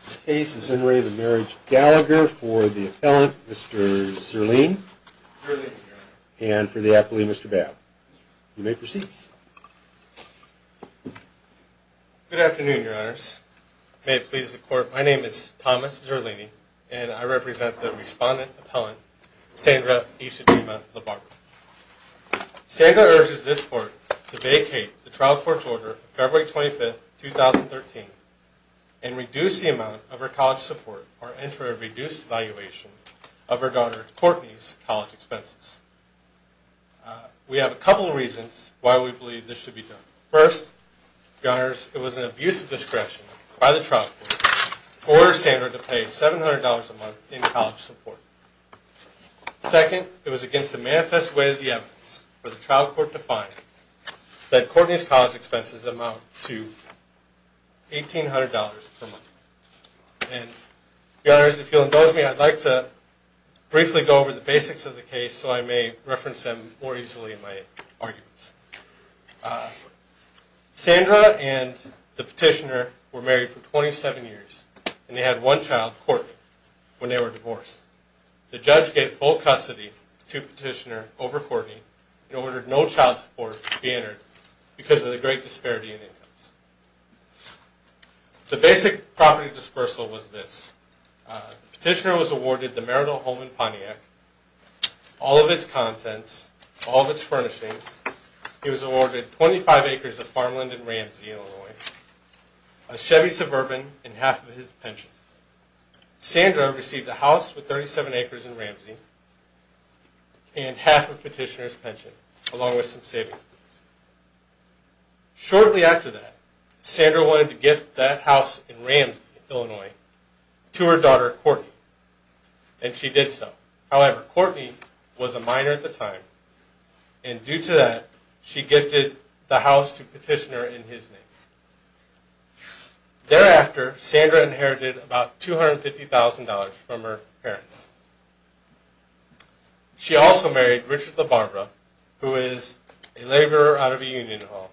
This case is in re the marriage of Gallagher for the appellant Mr. Zerlini and for the appellant Mr. Babb. You may proceed. Good afternoon your honors. May it please the court my name is Thomas Zerlini and I represent the respondent appellant Sandra Isadema Labarco. Sandra urges this court to vacate the trial court to reduce the amount of her college support or enter a reduced valuation of her daughter Courtney's college expenses. We have a couple of reasons why we believe this should be done. First, your honors, it was an abuse of discretion by the trial court to order Sandra to pay $700 a month in college support. Second, it was against the manifest way of the evidence for the trial court to find that Courtney's college expenses amount to $1,800 per month. Your honors, if you'll indulge me I'd like to briefly go over the basics of the case so I may reference them more easily in my arguments. Sandra and the petitioner were married for 27 years and they had one child, Courtney, when they were divorced. The judge gave full custody to petitioner over Courtney and ordered no child support to be entered because of the great disparity in incomes. The basic property dispersal was this. Petitioner was awarded the marital home in Pontiac, all of its contents, all of its furnishings. He was awarded 25 acres of farmland in Ramsey, Illinois, a Chevy Suburban, and half of his pension. Sandra received a house with 37 acres in Ramsey and half of petitioner's pension along with some savings. Shortly after that, Sandra wanted to gift that house in Ramsey, Illinois, to her daughter, Courtney, and she did so. However, Courtney was a minor at the time and due to that she gifted the house to petitioner in his name. Thereafter, Sandra inherited about $250,000 from her parents. She also married Richard LaBarbera, who is a laborer out of a union home,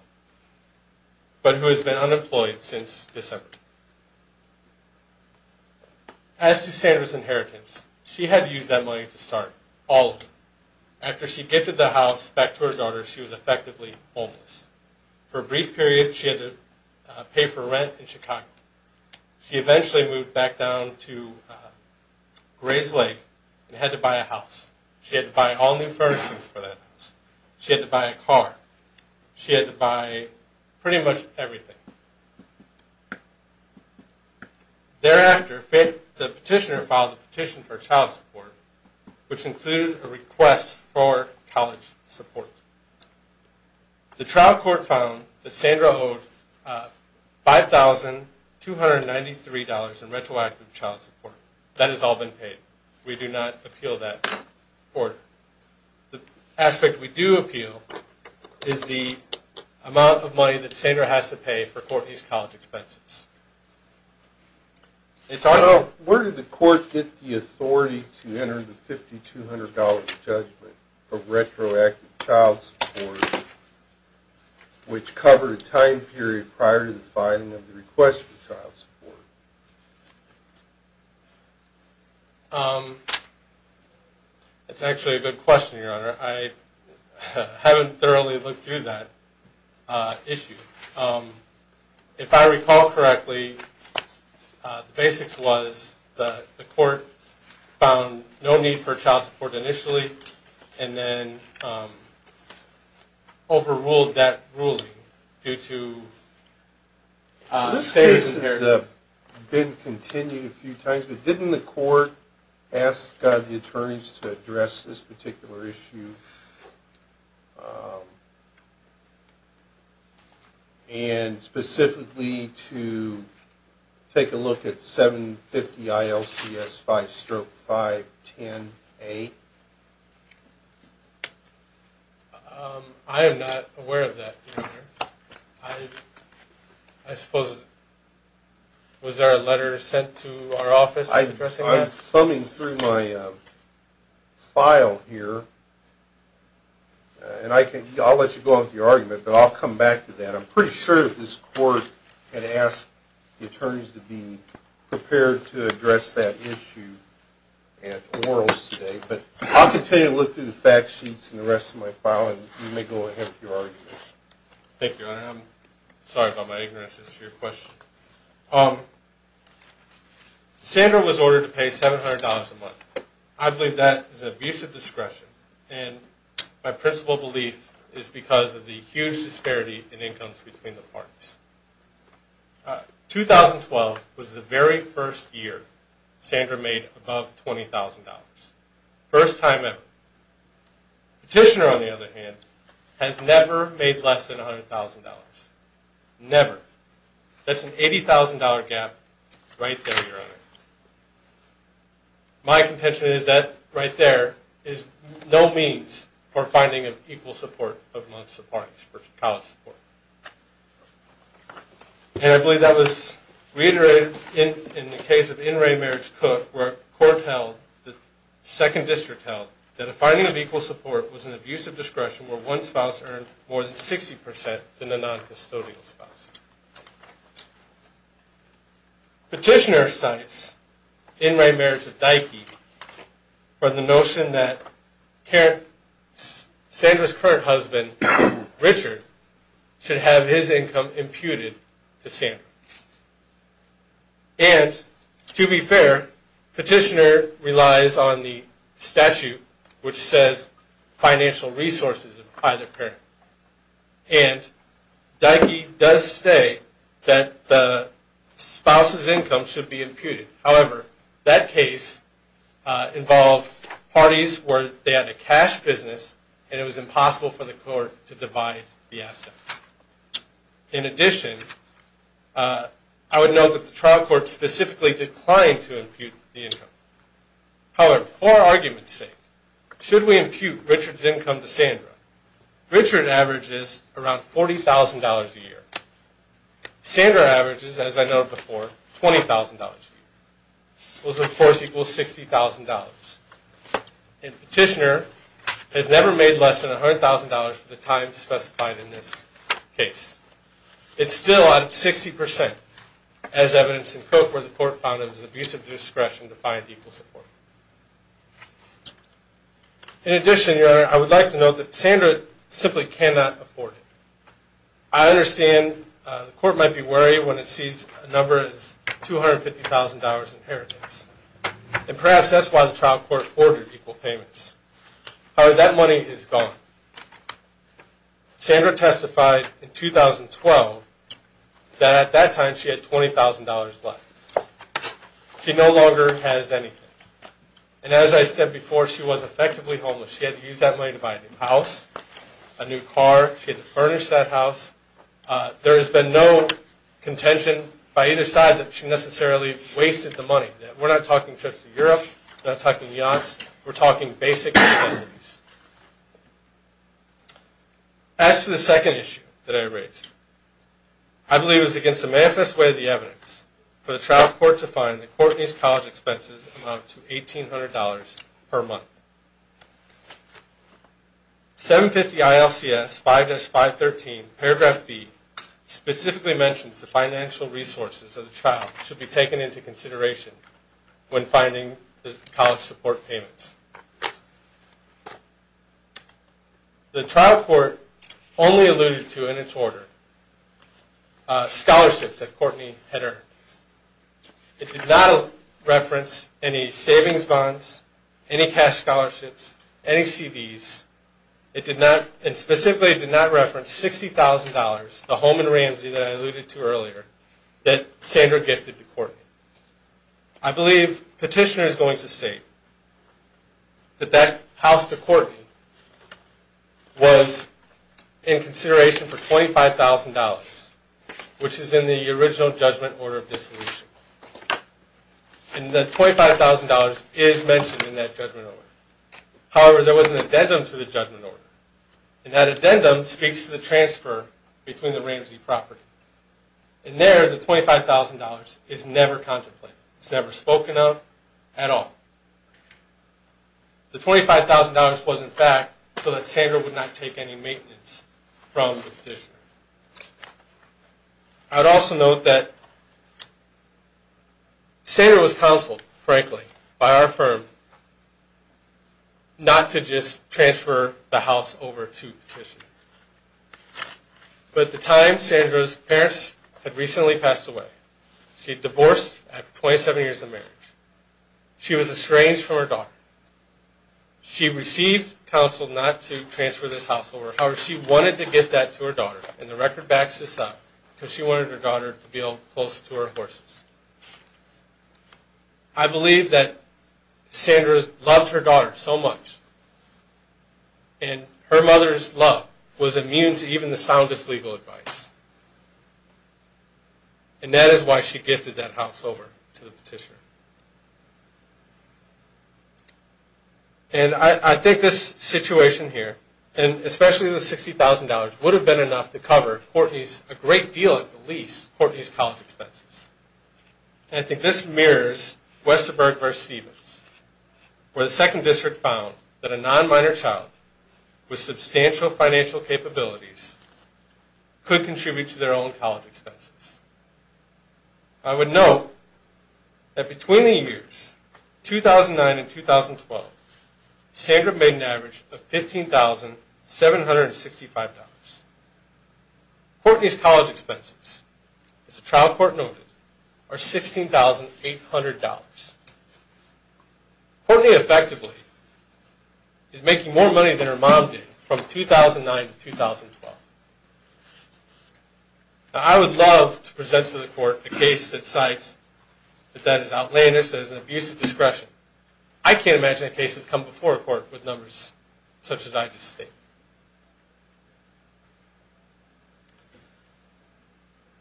but who has been unemployed since December. As to Sandra's inheritance, she had used that money to start all of it. After she gifted the house back to her daughter, she was effectively homeless. For a brief period, she had to pay for rent in Chicago. She eventually moved back down to Gray's Lake and had to buy a house. She had to buy all new furnishings for that house. She had to buy a car. She had to buy pretty much everything. Thereafter, the petitioner filed a petition for child support. The trial court found that Sandra owed $5,293 in retroactive child support. That has all been paid. We do not appeal that court. The aspect we do appeal is the amount of money that Sandra has to pay for Courtney's college expenses. Where did the court get the authority to enter the $5,200 judgment for retroactive child support, which covered a time period prior to the filing of the request for child support? It's actually a good question, Your Honor. I haven't thoroughly looked through that issue. If I recall correctly, the basics was the court found no need for child support initially and then overruled that ruling due to... This case has been continued a few times, but didn't the court ask the attorneys to address this issue? I am not aware of that, Your Honor. I suppose... Was there a letter sent to our office addressing that? I'm thumbing through my file here, and I can... I'll let you go on with your argument, but I'll come back to that. I'm pretty sure that this court had asked the attorneys to be prepared to address that issue at orals today, but I'll continue to look through the fact sheets and the rest of my file, and you may go ahead with your argument. Thank you, Your Honor. I'm sorry about my ignorance as to your question. Sandra was ordered to pay $700 a month. I believe that is abusive discretion, and my principal belief is because of the huge disparity in incomes between the 2012 was the very first year Sandra made above $20,000. First time ever. Petitioner, on the other hand, has never made less than $100,000. Never. That's an $80,000 gap right there, Your Honor. My contention is that right there is no means for finding of equal support amongst the parties for college support. And I believe that was reiterated in the case of In Re Marriage Cook, where court held, the second district held, that a finding of equal support was an abusive discretion where one spouse earned more than 60% than a non-custodial spouse. Petitioner cites In Re Marriage of Dikey for the notion that Sandra's current husband, Richard, should have his income imputed to Sandra. And, to be fair, Petitioner relies on the statute which says financial resources of either parent. And Dikey does say that the spouse's income should be imputed. However, that is impossible for the court to divide the assets. In addition, I would note that the trial court specifically declined to impute the income. However, for argument's sake, should we impute Richard's income to Sandra? Richard averages around $40,000 a year. Sandra averages, as I noted before, $20,000 a year. Those, of course, equal $60,000. And Petitioner has never made less than $100,000 for the time specified in this case. It's still at 60%, as evidenced in Cook, where the court found it was an abusive discretion to find equal support. In addition, Your Honor, I would like to note that Sandra simply cannot afford it. I understand the court might be worried when it sees a number as $250,000 in inheritance. And perhaps that's why the trial court ordered equal payments. However, that money is gone. Sandra testified in 2012 that at that time she had $20,000 left. She no longer has anything. And as I said before, she was effectively homeless. She had to use that money to buy a new house, a new car. She had to furnish that house. There has been no contention by either side that she necessarily wasted the money. We're not talking trips to Europe. We're not talking yachts. We're talking basic necessities. As to the second issue that I raised, I believe it was against the manifest way of the evidence for the trial court to find that Courtney's college expenses amount to $1,800 per month. 750 ILCS 5-513, paragraph B, specifically mentions the financial resources of the trial should be taken into consideration when finding the college support payments. The trial court only alluded to, in its order, scholarships that Courtney had earned. It did not reference any savings bonds, any cash scholarships, any CVs. It specifically did not reference $60,000, the home in Ramsey that I alluded to earlier, that Sandra gifted to Courtney. I believe Petitioner is going to state that that house to Courtney was in consideration for $25,000, which is in the original judgment order of dissolution. And that $25,000 is mentioned in that judgment order. However, there was an addendum to the judgment order. And that addendum speaks to the transfer between the Ramsey property. And there, the $25,000 is never contemplated. It's never spoken of at all. The $25,000 was, in fact, so that Sandra would not take any maintenance from Petitioner. I would also note that Sandra was counseled, frankly, by our firm not to just transfer the house over to Petitioner. But at the time, Sandra's parents had recently passed away. She had divorced after 27 years of marriage. She was estranged from her daughter. She received counsel not to transfer this house over. However, she wanted to gift that to her daughter. And the record backs this up, because she wanted her daughter to be able to be close to her horses. I believe that Sandra loved her daughter so much. And her mother's love was immune to even the soundest legal advice. And that is why she gifted that house over to the Petitioner. And I think this situation here, and especially the $60,000, would have been enough to cover a great deal, at the least, of Courtney's college expenses. And I think this mirrors Westerberg v. Stevens, where the 2nd District found that a non-minor child with substantial financial capabilities could contribute to their own college expenses. I would note that between the years 2009 and 2012, Sandra made an average of $15,765. Courtney's college expenses, as the trial court noted, are $16,800. Courtney, effectively, is making more money than her mom did from 2009 to 2012. Now, I would love to present to the court a case that cites that that is outlandish, that is an abuse of discretion. I can't imagine a case that's come before a court with numbers such as I just stated.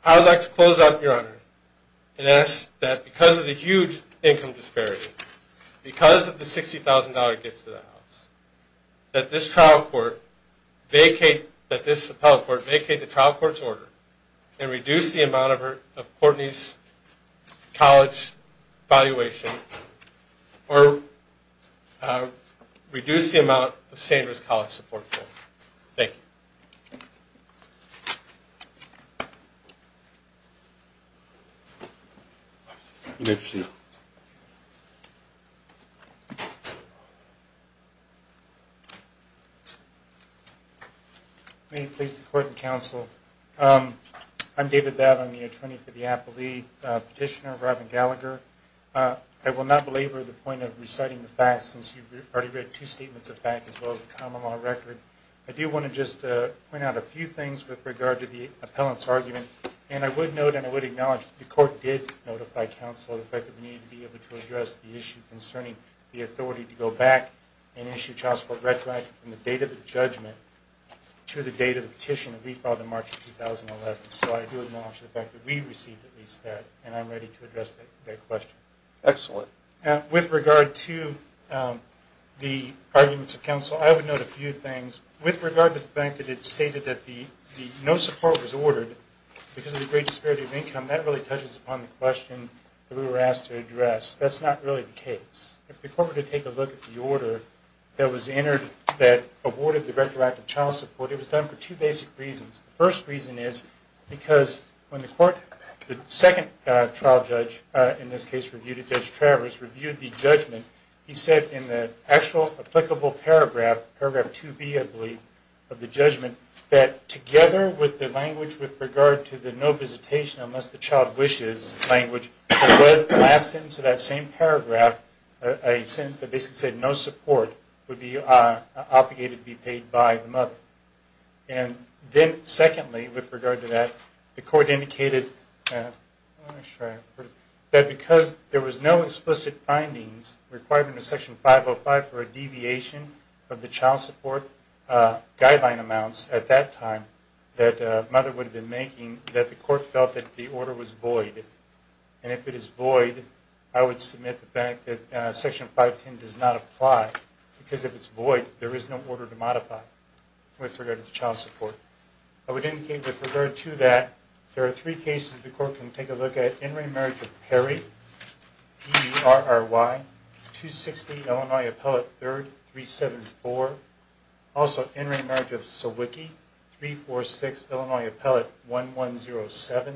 I would like to close out, Your Honor, and ask that because of the huge income disparity, because of the $60,000 gift to the house, that this trial court vacate the trial court's order and reduce the amount of Courtney's college valuation, or reduce the amount of Sandra's college support. Thank you. You may proceed. May it please the court and counsel, I'm David Babb. I'm the attorney for the appellee petitioner, Robin Gallagher. I will not belabor the point of reciting the facts, since you've already read two statements of fact, as well as the common law record. I do want to just point out a few things with regard to the appellant's argument, and I would note and I would acknowledge that the court did notify counsel of the fact that we needed to be able to address the issue concerning the authority to go back and issue a trial court red flag from the date of the judgment to the date of the petition that we filed in March of 2011. So I do acknowledge the fact that we received at least that, and I'm ready to address that question. Excellent. With regard to the arguments of counsel, I would note a few things. With regard to the fact that it stated that no support was ordered because of the great disparity of income, that really touches upon the question that we were asked to address. That's not really the case. If the court were to take a look at the order that was entered that awarded the Rector Act of Child Support, it was done for two basic reasons. The first reason is because when the court, the second trial judge, in this case reviewed it, Judge Travers, reviewed the judgment, he said in the actual applicable paragraph, paragraph 2B, I believe, of the judgment, that together with the language with regard to the no visitation unless the child wishes language, there was the last sentence of that same paragraph, a sentence that basically said no support would be obligated to be paid by the mother. And then secondly, with regard to that, the court indicated that because there was no explicit findings requiring the Section 505 for a deviation of the child support guideline amounts at that time that the mother would have been making, that the court felt that the order was void. And if it is void, I would submit the fact that Section 510 does not apply because if it's void, there is no order to modify with regard to the child support. I would indicate that with regard to that, there are three cases the court can take a look at. In re-emerge of Perry, E-R-R-Y, 260 Illinois Appellate 3rd, 374. Also in re-emerge of Sawicki, 346 Illinois Appellate 1107.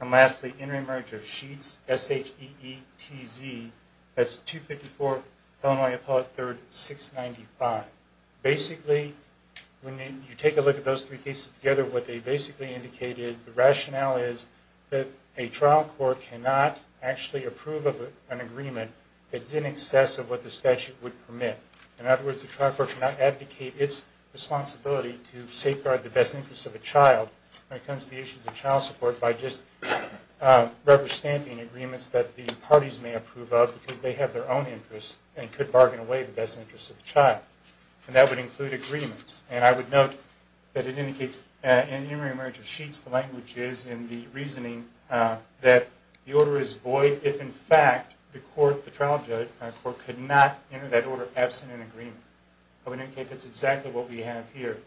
And lastly, in re-emerge of Sheetz, S-H-E-E-T-Z, that's 254 Illinois Appellate 3rd, 695. Basically, when you take a look at those three cases together, what they basically indicate is the rationale is that a trial court cannot actually approve of an agreement that's in excess of what the statute would permit. In other words, the trial court cannot advocate its responsibility to safeguard the best interest of a child when it comes to the issues of child support by just rubber-stamping agreements that the parties may approve of because they have their own interests and could bargain away the best interests of the child. And that would include agreements. And I would note that it indicates in the re-emerge of Sheetz, the language is in the reasoning that the order is void if, in fact, the trial court could not enter that order absent an agreement. I would indicate that's exactly what we have here.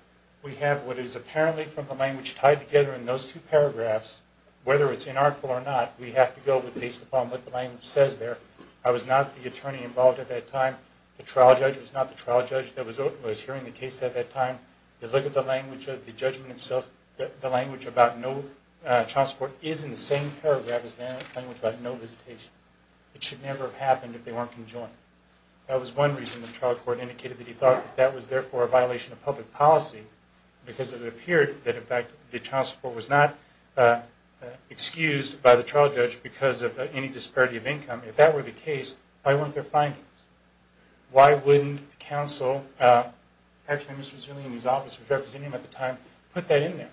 We have what is apparently from the language tied together in those two paragraphs. Whether it's in our court or not, we have to go with based upon what the language says there. I was not the attorney involved at that time. The trial judge was not the trial judge that was hearing the case at that time. You look at the language of the judgment itself, the language about no child support is in the same paragraph as the language about no visitation. It should never have happened if they weren't conjoined. That was one reason the trial court indicated that he thought that that was, therefore, a violation of public policy because it appeared that, in fact, the child support was not excused by the trial judge because of any disparity of income. If that were the case, why weren't there findings? Why wouldn't counsel, actually Mr. Zillian, whose office was representing him at the time, put that in there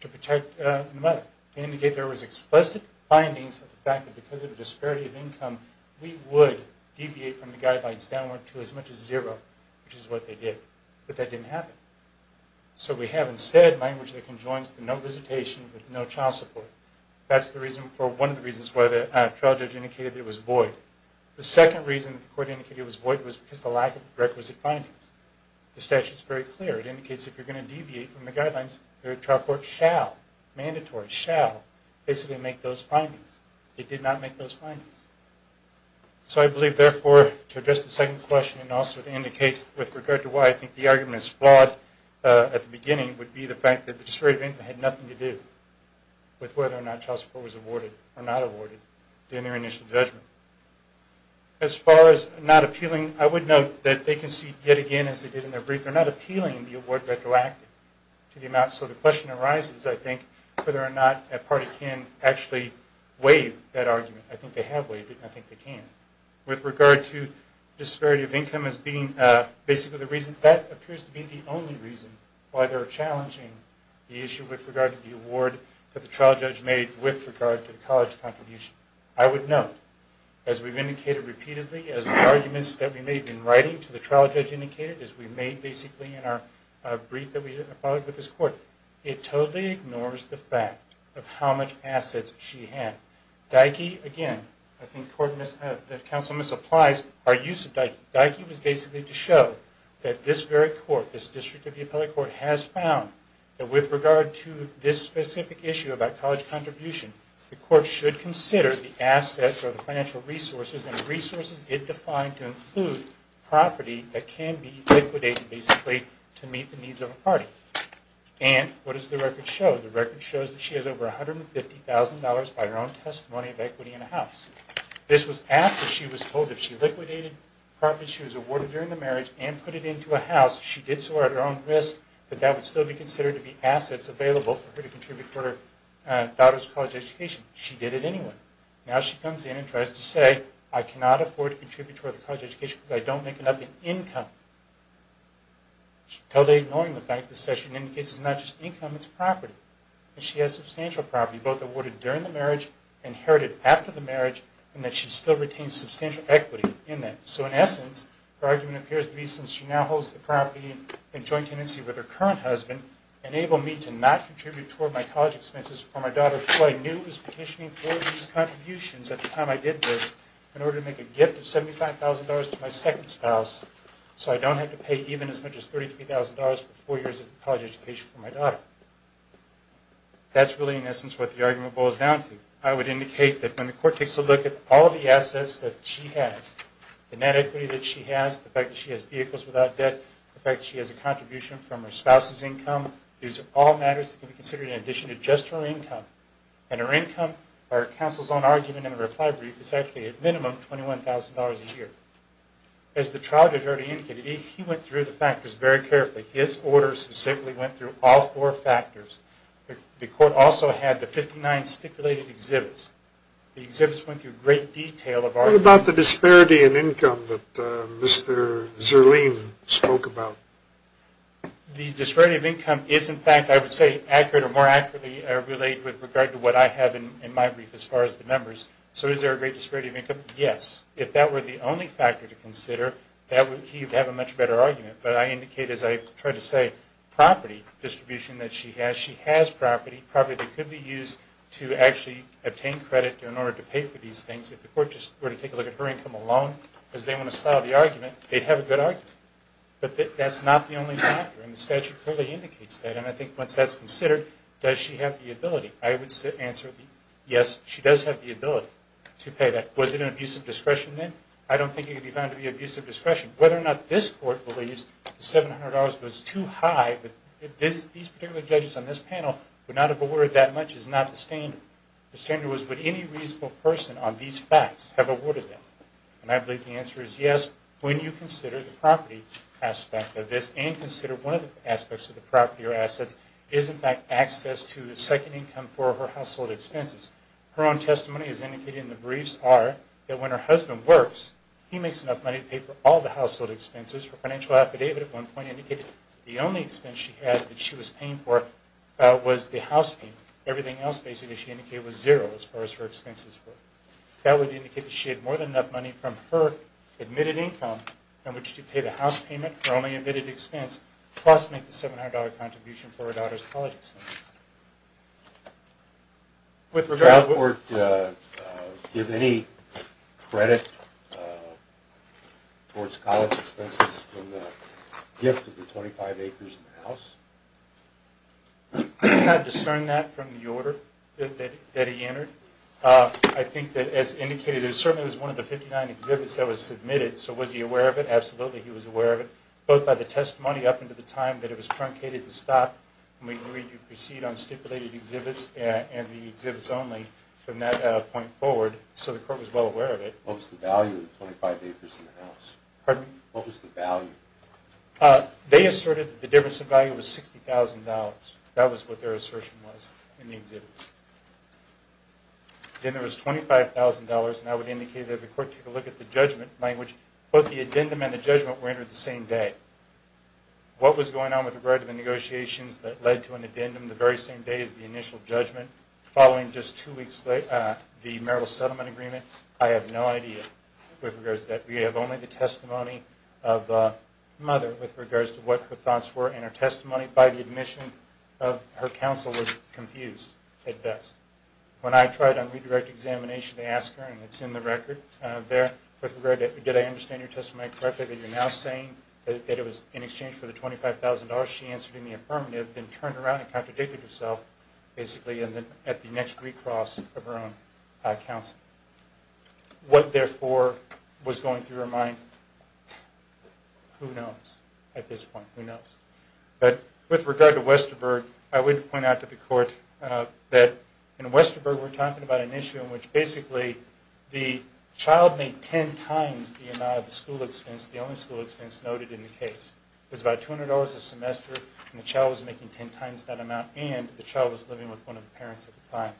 to protect the mother? They indicate there was explicit findings of the fact that because of the disparity of income, we would deviate from the guidelines downward to as much as zero, which is what they did. But that didn't happen. So we have, instead, language that conjoins the no visitation with no child support. That's one of the reasons why the trial judge indicated that it was void. The second reason the court indicated it was void was because of the lack of requisite findings. The statute is very clear. It indicates if you're going to deviate from the guidelines, the trial court shall, mandatory, shall basically make those findings. It did not make those findings. So I believe, therefore, to address the second question and also to indicate with regard to why I think the argument is flawed at the beginning would be the fact that the disparity of income had nothing to do with whether or not child support was awarded or not awarded during their initial judgment. As far as not appealing, I would note that they concede yet again, as they did in their brief, that they're not appealing the award retroactively to the amount. So the question arises, I think, whether or not a party can actually waive that argument. I think they have waived it, and I think they can. With regard to disparity of income as being basically the reason, that appears to be the only reason why they're challenging the issue with regard to the award that the trial judge made with regard to the college contribution. I would note, as we've indicated repeatedly, as the arguments that we made in writing to the trial judge indicated, as we made basically in our brief that we followed with this court, it totally ignores the fact of how much assets she had. Dyke, again, I think the counsel misapplies our use of Dyke. Dyke was basically to show that this very court, this district of the appellate court, has found that with regard to this specific issue about college contribution, the court should consider the assets or the financial resources and resources it defined to include property that can be liquidated, basically, to meet the needs of a party. And what does the record show? The record shows that she has over $150,000 by her own testimony of equity in a house. This was after she was told if she liquidated property she was awarded during the marriage and put it into a house, she did so at her own risk, that that would still be considered to be assets available for her to contribute for her daughter's college education. She did it anyway. Now she comes in and tries to say, I cannot afford to contribute toward the college education because I don't make enough income. Totally ignoring the fact that this session indicates it's not just income, it's property. And she has substantial property, both awarded during the marriage, inherited after the marriage, and that she still retains substantial equity in that. So in essence, her argument appears to be since she now holds the property in joint tenancy with her current husband, enable me to not contribute toward my college expenses for my daughter who I knew was petitioning for these contributions at the time I did this in order to make a gift of $75,000 to my second spouse so I don't have to pay even as much as $33,000 for four years of college education for my daughter. That's really in essence what the argument boils down to. I would indicate that when the court takes a look at all of the assets that she has, the net equity that she has, the fact that she has vehicles without debt, the fact that she has a contribution from her spouse's income, these are all matters that can be considered in addition to just her income. And her income, our counsel's own argument in a reply brief, is actually at minimum $21,000 a year. As the trial judge already indicated, he went through the factors very carefully. His order specifically went through all four factors. The court also had the 59 stipulated exhibits. The exhibits went through great detail of our... What about the disparity in income that Mr. Zerlean spoke about? The disparity of income is in fact, I would say, accurate or more accurately related with regard to what I have in my brief as far as the numbers. So is there a great disparity of income? Yes. If that were the only factor to consider, he would have a much better argument. But I indicate, as I tried to say, property distribution that she has. She has property, property that could be used to actually obtain credit in order to pay for these things. If the court just were to take a look at her income alone, because they want to style the argument, they'd have a good argument. But that's not the only factor, and the statute clearly indicates that. And I think once that's considered, does she have the ability? I would answer, yes, she does have the ability to pay that. Was it an abuse of discretion then? I don't think it could be found to be abuse of discretion. Whether or not this court believes the $700 was too high, these particular judges on this panel would not have awarded that much is not the standard. The standard was, would any reasonable person on these facts have awarded that? And I believe the answer is yes. When you consider the property aspect of this, and consider one of the aspects of the property or assets, is in fact access to the second income for her household expenses. Her own testimony is indicated in the briefs are that when her husband works, he makes enough money to pay for all the household expenses. Her financial affidavit at one point indicated the only expense she had that she was paying for was the house payment. Everything else basically she indicated was zero as far as her expenses were. That would indicate that she had more than enough money from her admitted income in which to pay the house payment, her only admitted expense, plus make the $700 contribution for her daughter's college expenses. Would the trial court give any credit towards college expenses from the gift of the 25 acres in the house? I'd discern that from the order that he entered. I think that as indicated, it certainly was one of the 59 exhibits that was submitted. So was he aware of it? Absolutely, he was aware of it. Both by the testimony up until the time that it was truncated to stop when we agreed to proceed on stipulated exhibits and the exhibits only from that point forward. So the court was well aware of it. What was the value of the 25 acres in the house? Pardon me? What was the value? They asserted that the difference in value was $60,000. That was what their assertion was in the exhibits. Then there was $25,000 and I would indicate that the court took a look at the judgment language. Both the addendum and the judgment were entered the same day. What was going on with regard to the negotiations that led to an addendum the very same day as the initial judgment following just two weeks later the marital settlement agreement? I have no idea with regards to that. We have only the testimony of the mother with regards to what her thoughts were and her testimony by the admission of her counsel was confused at best. When I tried on redirect examination to ask her, and it's in the record there, with regard to did I understand your testimony correctly, that you're now saying that it was in exchange for the $25,000, she answered in the affirmative, then turned around and contradicted herself basically at the next recross of her own counsel. What, therefore, was going through her mind? Who knows at this point? Who knows? With regard to Westerberg, I would point out to the court that in Westerberg we're talking about an issue in which basically the child made ten times the amount of the school expense, the only school expense noted in the case. It was about $200 a semester and the child was making ten times that amount and the child was living with one of the parents at the time.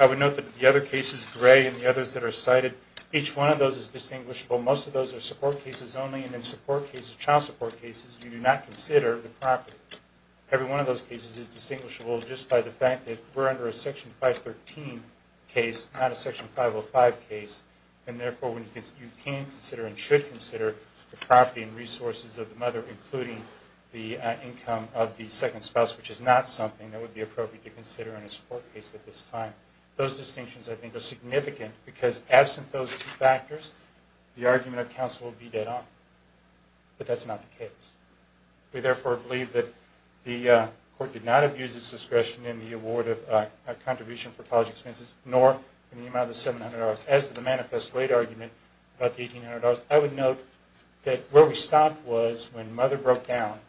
I would note that the other cases, Gray and the others that are cited, each one of those is distinguishable. Most of those are support cases only and in support cases, child support cases, you do not consider the property. Every one of those cases is distinguishable just by the fact that we're under a Section 513 case, not a Section 505 case, and, therefore, you can consider and should consider the property and resources of the mother, including the income of the second spouse, which is not something that would be appropriate to consider in a support case at this time. Those distinctions, I think, are significant because absent those factors, the argument of counsel will be dead on. But that's not the case. We, therefore, believe that the court did not abuse its discretion in the award of a contribution for college expenses, nor in the amount of the $700. As to the manifest weight argument about the $1,800, I would note that where we stopped was when Mother broke down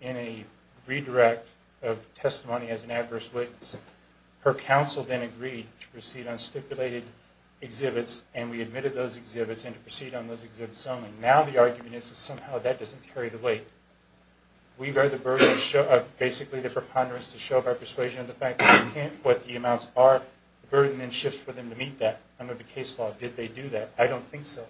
in a redirect of testimony as an adverse witness. Her counsel then agreed to proceed on stipulated exhibits and we admitted those exhibits and to proceed on those exhibits only. Now the argument is that somehow that doesn't carry the weight. We bear the burden of basically the preponderance to show our persuasion of the fact that we can't, what the amounts are. The burden then shifts for them to meet that under the case law. Did they do that? I don't think so.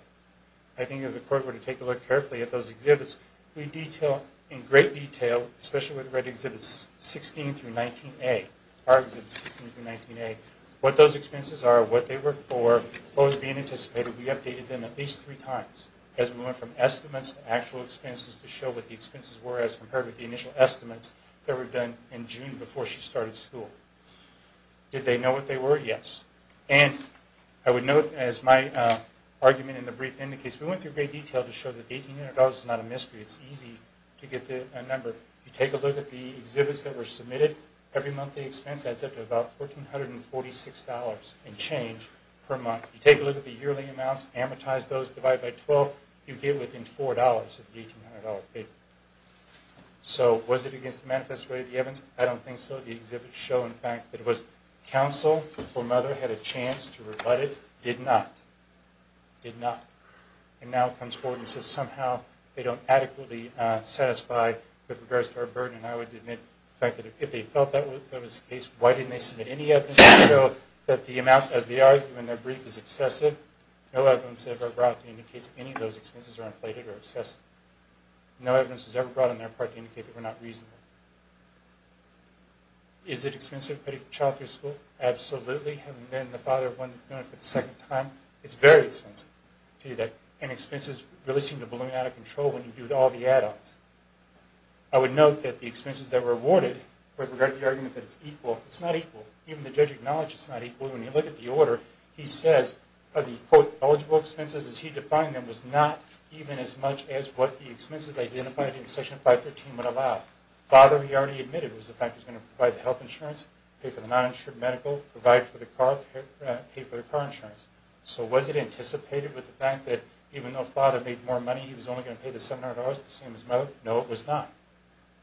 I think if the court were to take a look carefully at those exhibits, we detail in great detail, especially when we read Exhibits 16 through 19A, our Exhibits 16 through 19A, what those expenses are, what they were for, what was being anticipated. We updated them at least three times as we went from estimates to actual expenses to show what the expenses were as compared with the initial estimates that were done in June before she started school. Did they know what they were? Yes. And I would note, as my argument in the brief indicates, we went through great detail to show that the $1,800 is not a mystery. It's easy to get a number. If you take a look at the exhibits that were submitted, every monthly expense adds up to about $1,446 in change per month. If you take a look at the yearly amounts, amortize those, divide by 12, you get within $4 of the $1,800 payment. So was it against the manifesto of the evidence? I don't think so. The exhibits show, in fact, that it was counsel, her mother had a chance to rebut it, did not. Did not. And now it comes forward and says somehow they don't adequately satisfy with regards to her burden. And I would admit, in fact, that if they felt that was the case, why didn't they submit any evidence to show that the amounts, as they argue in their brief, is excessive? No evidence was ever brought to indicate that any of those expenses are inflated or excessive. No evidence was ever brought on their part to indicate that were not reasonable. Is it expensive to pay for child care school? Absolutely. Having been the father of one that's doing it for the second time, it's very expensive to do that. And expenses really seem to balloon out of control when you do it with all the add-ons. I would note that the expenses that were awarded, with regard to the argument that it's equal, it's not equal. Even the judge acknowledged it's not equal. When you look at the order, he says the, quote, eligible expenses as he defined them was not even as much as what the expenses identified in Section 513 would allow. Father, he already admitted, was the fact he was going to provide the health insurance, pay for the non-insured medical, provide for the car, pay for the car insurance. So was it anticipated with the fact that even though father made more money, he was only going to pay the $700, the same as mother? No, it was not.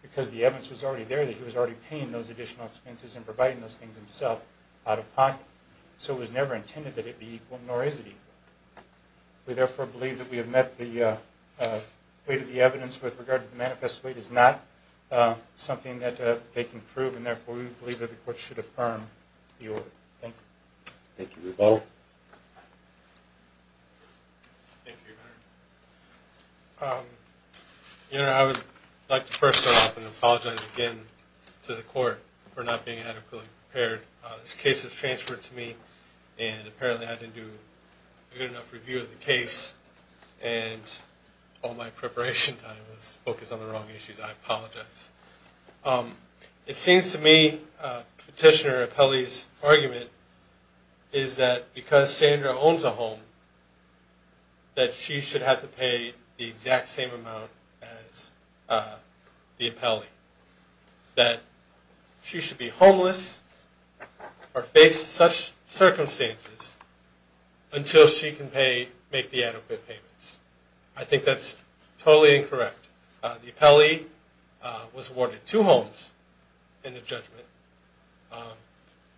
Because the evidence was already there that he was already paying those additional expenses and providing those things himself out of pocket. So it was never intended that it be equal, nor is it equal. We therefore believe that we have met the weight of the evidence with regard to the manifest weight is not something that they can prove, and therefore we believe that the court should affirm the order. Thank you. Thank you. Rebaul? Thank you, Your Honor. Your Honor, I would like to first start off and apologize again to the court for not being adequately prepared. This case was transferred to me, and apparently I didn't do a good enough review of the case, and all my preparation time was focused on the wrong issues. I apologize. It seems to me Petitioner Apelli's argument is that because Sandra owns a home, she should have to pay the exact same amount as the Apelli, that she should be homeless or face such circumstances until she can make the adequate payments. I think that's totally incorrect. The Apelli was awarded two homes in the judgment.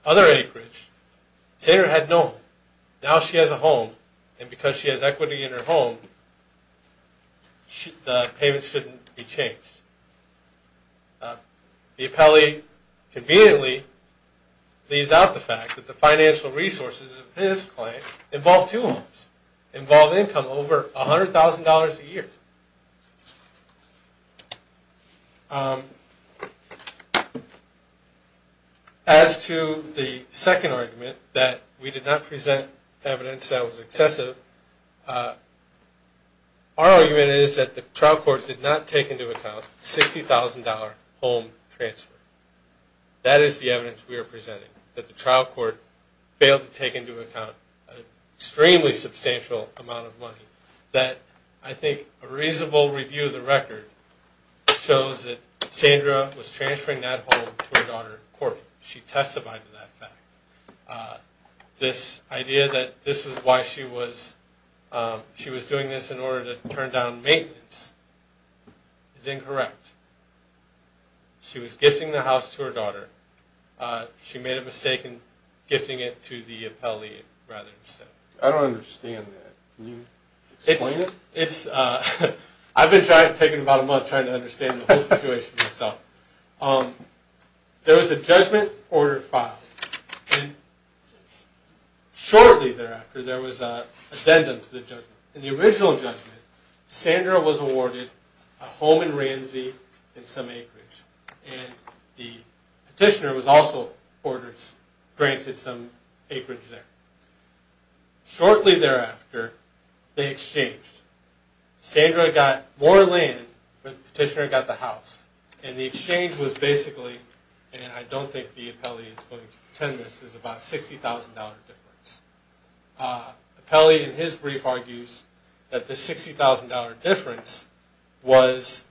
Other acreage, Sandra had no home. Now she has a home, and because she has equity in her home, the payment shouldn't be changed. The Apelli conveniently leaves out the fact that the financial resources of his client involved two homes, involved income over $100,000 a year. As to the second argument, that we did not present evidence that was excessive, our argument is that the trial court did not take into account $60,000 home transfer. That is the evidence we are presenting, that the trial court failed to take into account an extremely substantial amount of money. I think a reasonable review of the record shows that Sandra was transferring that home to her daughter, Corbyn. She testified to that fact. This idea that this is why she was doing this in order to turn down maintenance is incorrect. She was gifting the house to her daughter. She made a mistake in gifting it to the Apelli rather instead. I don't understand that. Can you explain it? I've been taking about a month trying to understand the whole situation myself. There was a judgment order filed. Shortly thereafter, there was an addendum to the judgment. In the original judgment, Sandra was awarded a home in Ramsey in some the petitioner was also granted some acreage there. Shortly thereafter, they exchanged. Sandra got more land when the petitioner got the house. The exchange was basically, and I don't think the Apelli is going to pretend this, is about a $60,000 difference. Apelli in his brief argues that the $60,000 difference was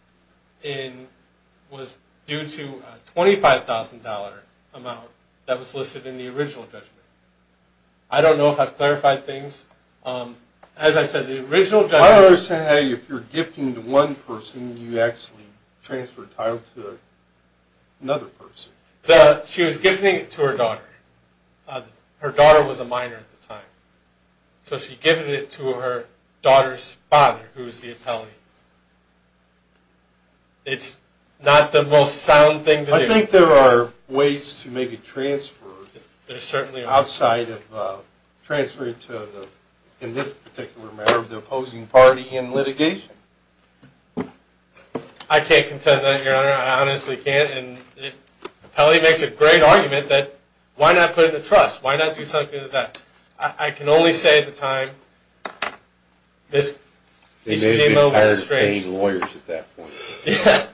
due to a $25,000 amount that was listed in the original judgment. I don't know if I've clarified things. As I said, the original judgment... I understand how if you're gifting to one person, you actually transfer the title to another person. She was gifting it to her daughter. Her daughter was a minor at the time. So she gifted it to her daughter's father, who was the Apelli. It's not the most sound thing to do. I think there are ways to make a transfer. There certainly are. Outside of transferring to, in this particular matter, the opposing party in litigation. I can't contend with that, Your Honor. I honestly can't. Apelli makes a great argument that why not put in a trust? Why not do something like that? I can only say at the time... They may have been tired of paying lawyers at that point. Yeah.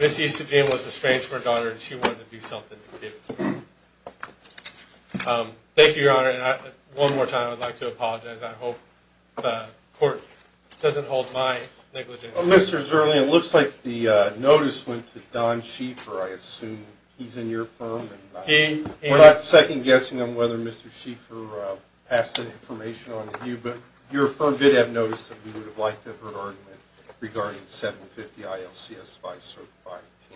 Ms. Eustadine was estranged from her daughter, and she wanted to do something to give it to her. Thank you, Your Honor. One more time, I would like to apologize. I hope the court doesn't hold my negligence. Mr. Zerley, it looks like the notice went to Don Schieffer, I assume. He's in your firm. We're not second-guessing on whether Mr. Schieffer passed that information on to you, but your firm did have notice that we would have liked to have heard an argument regarding 750-IL-CS-5-Certified TMA.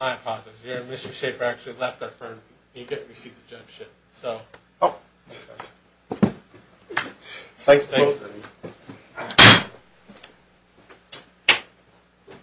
My apologies. Mr. Schieffer actually left our firm. He didn't receive the judgeship. Thanks to both of you.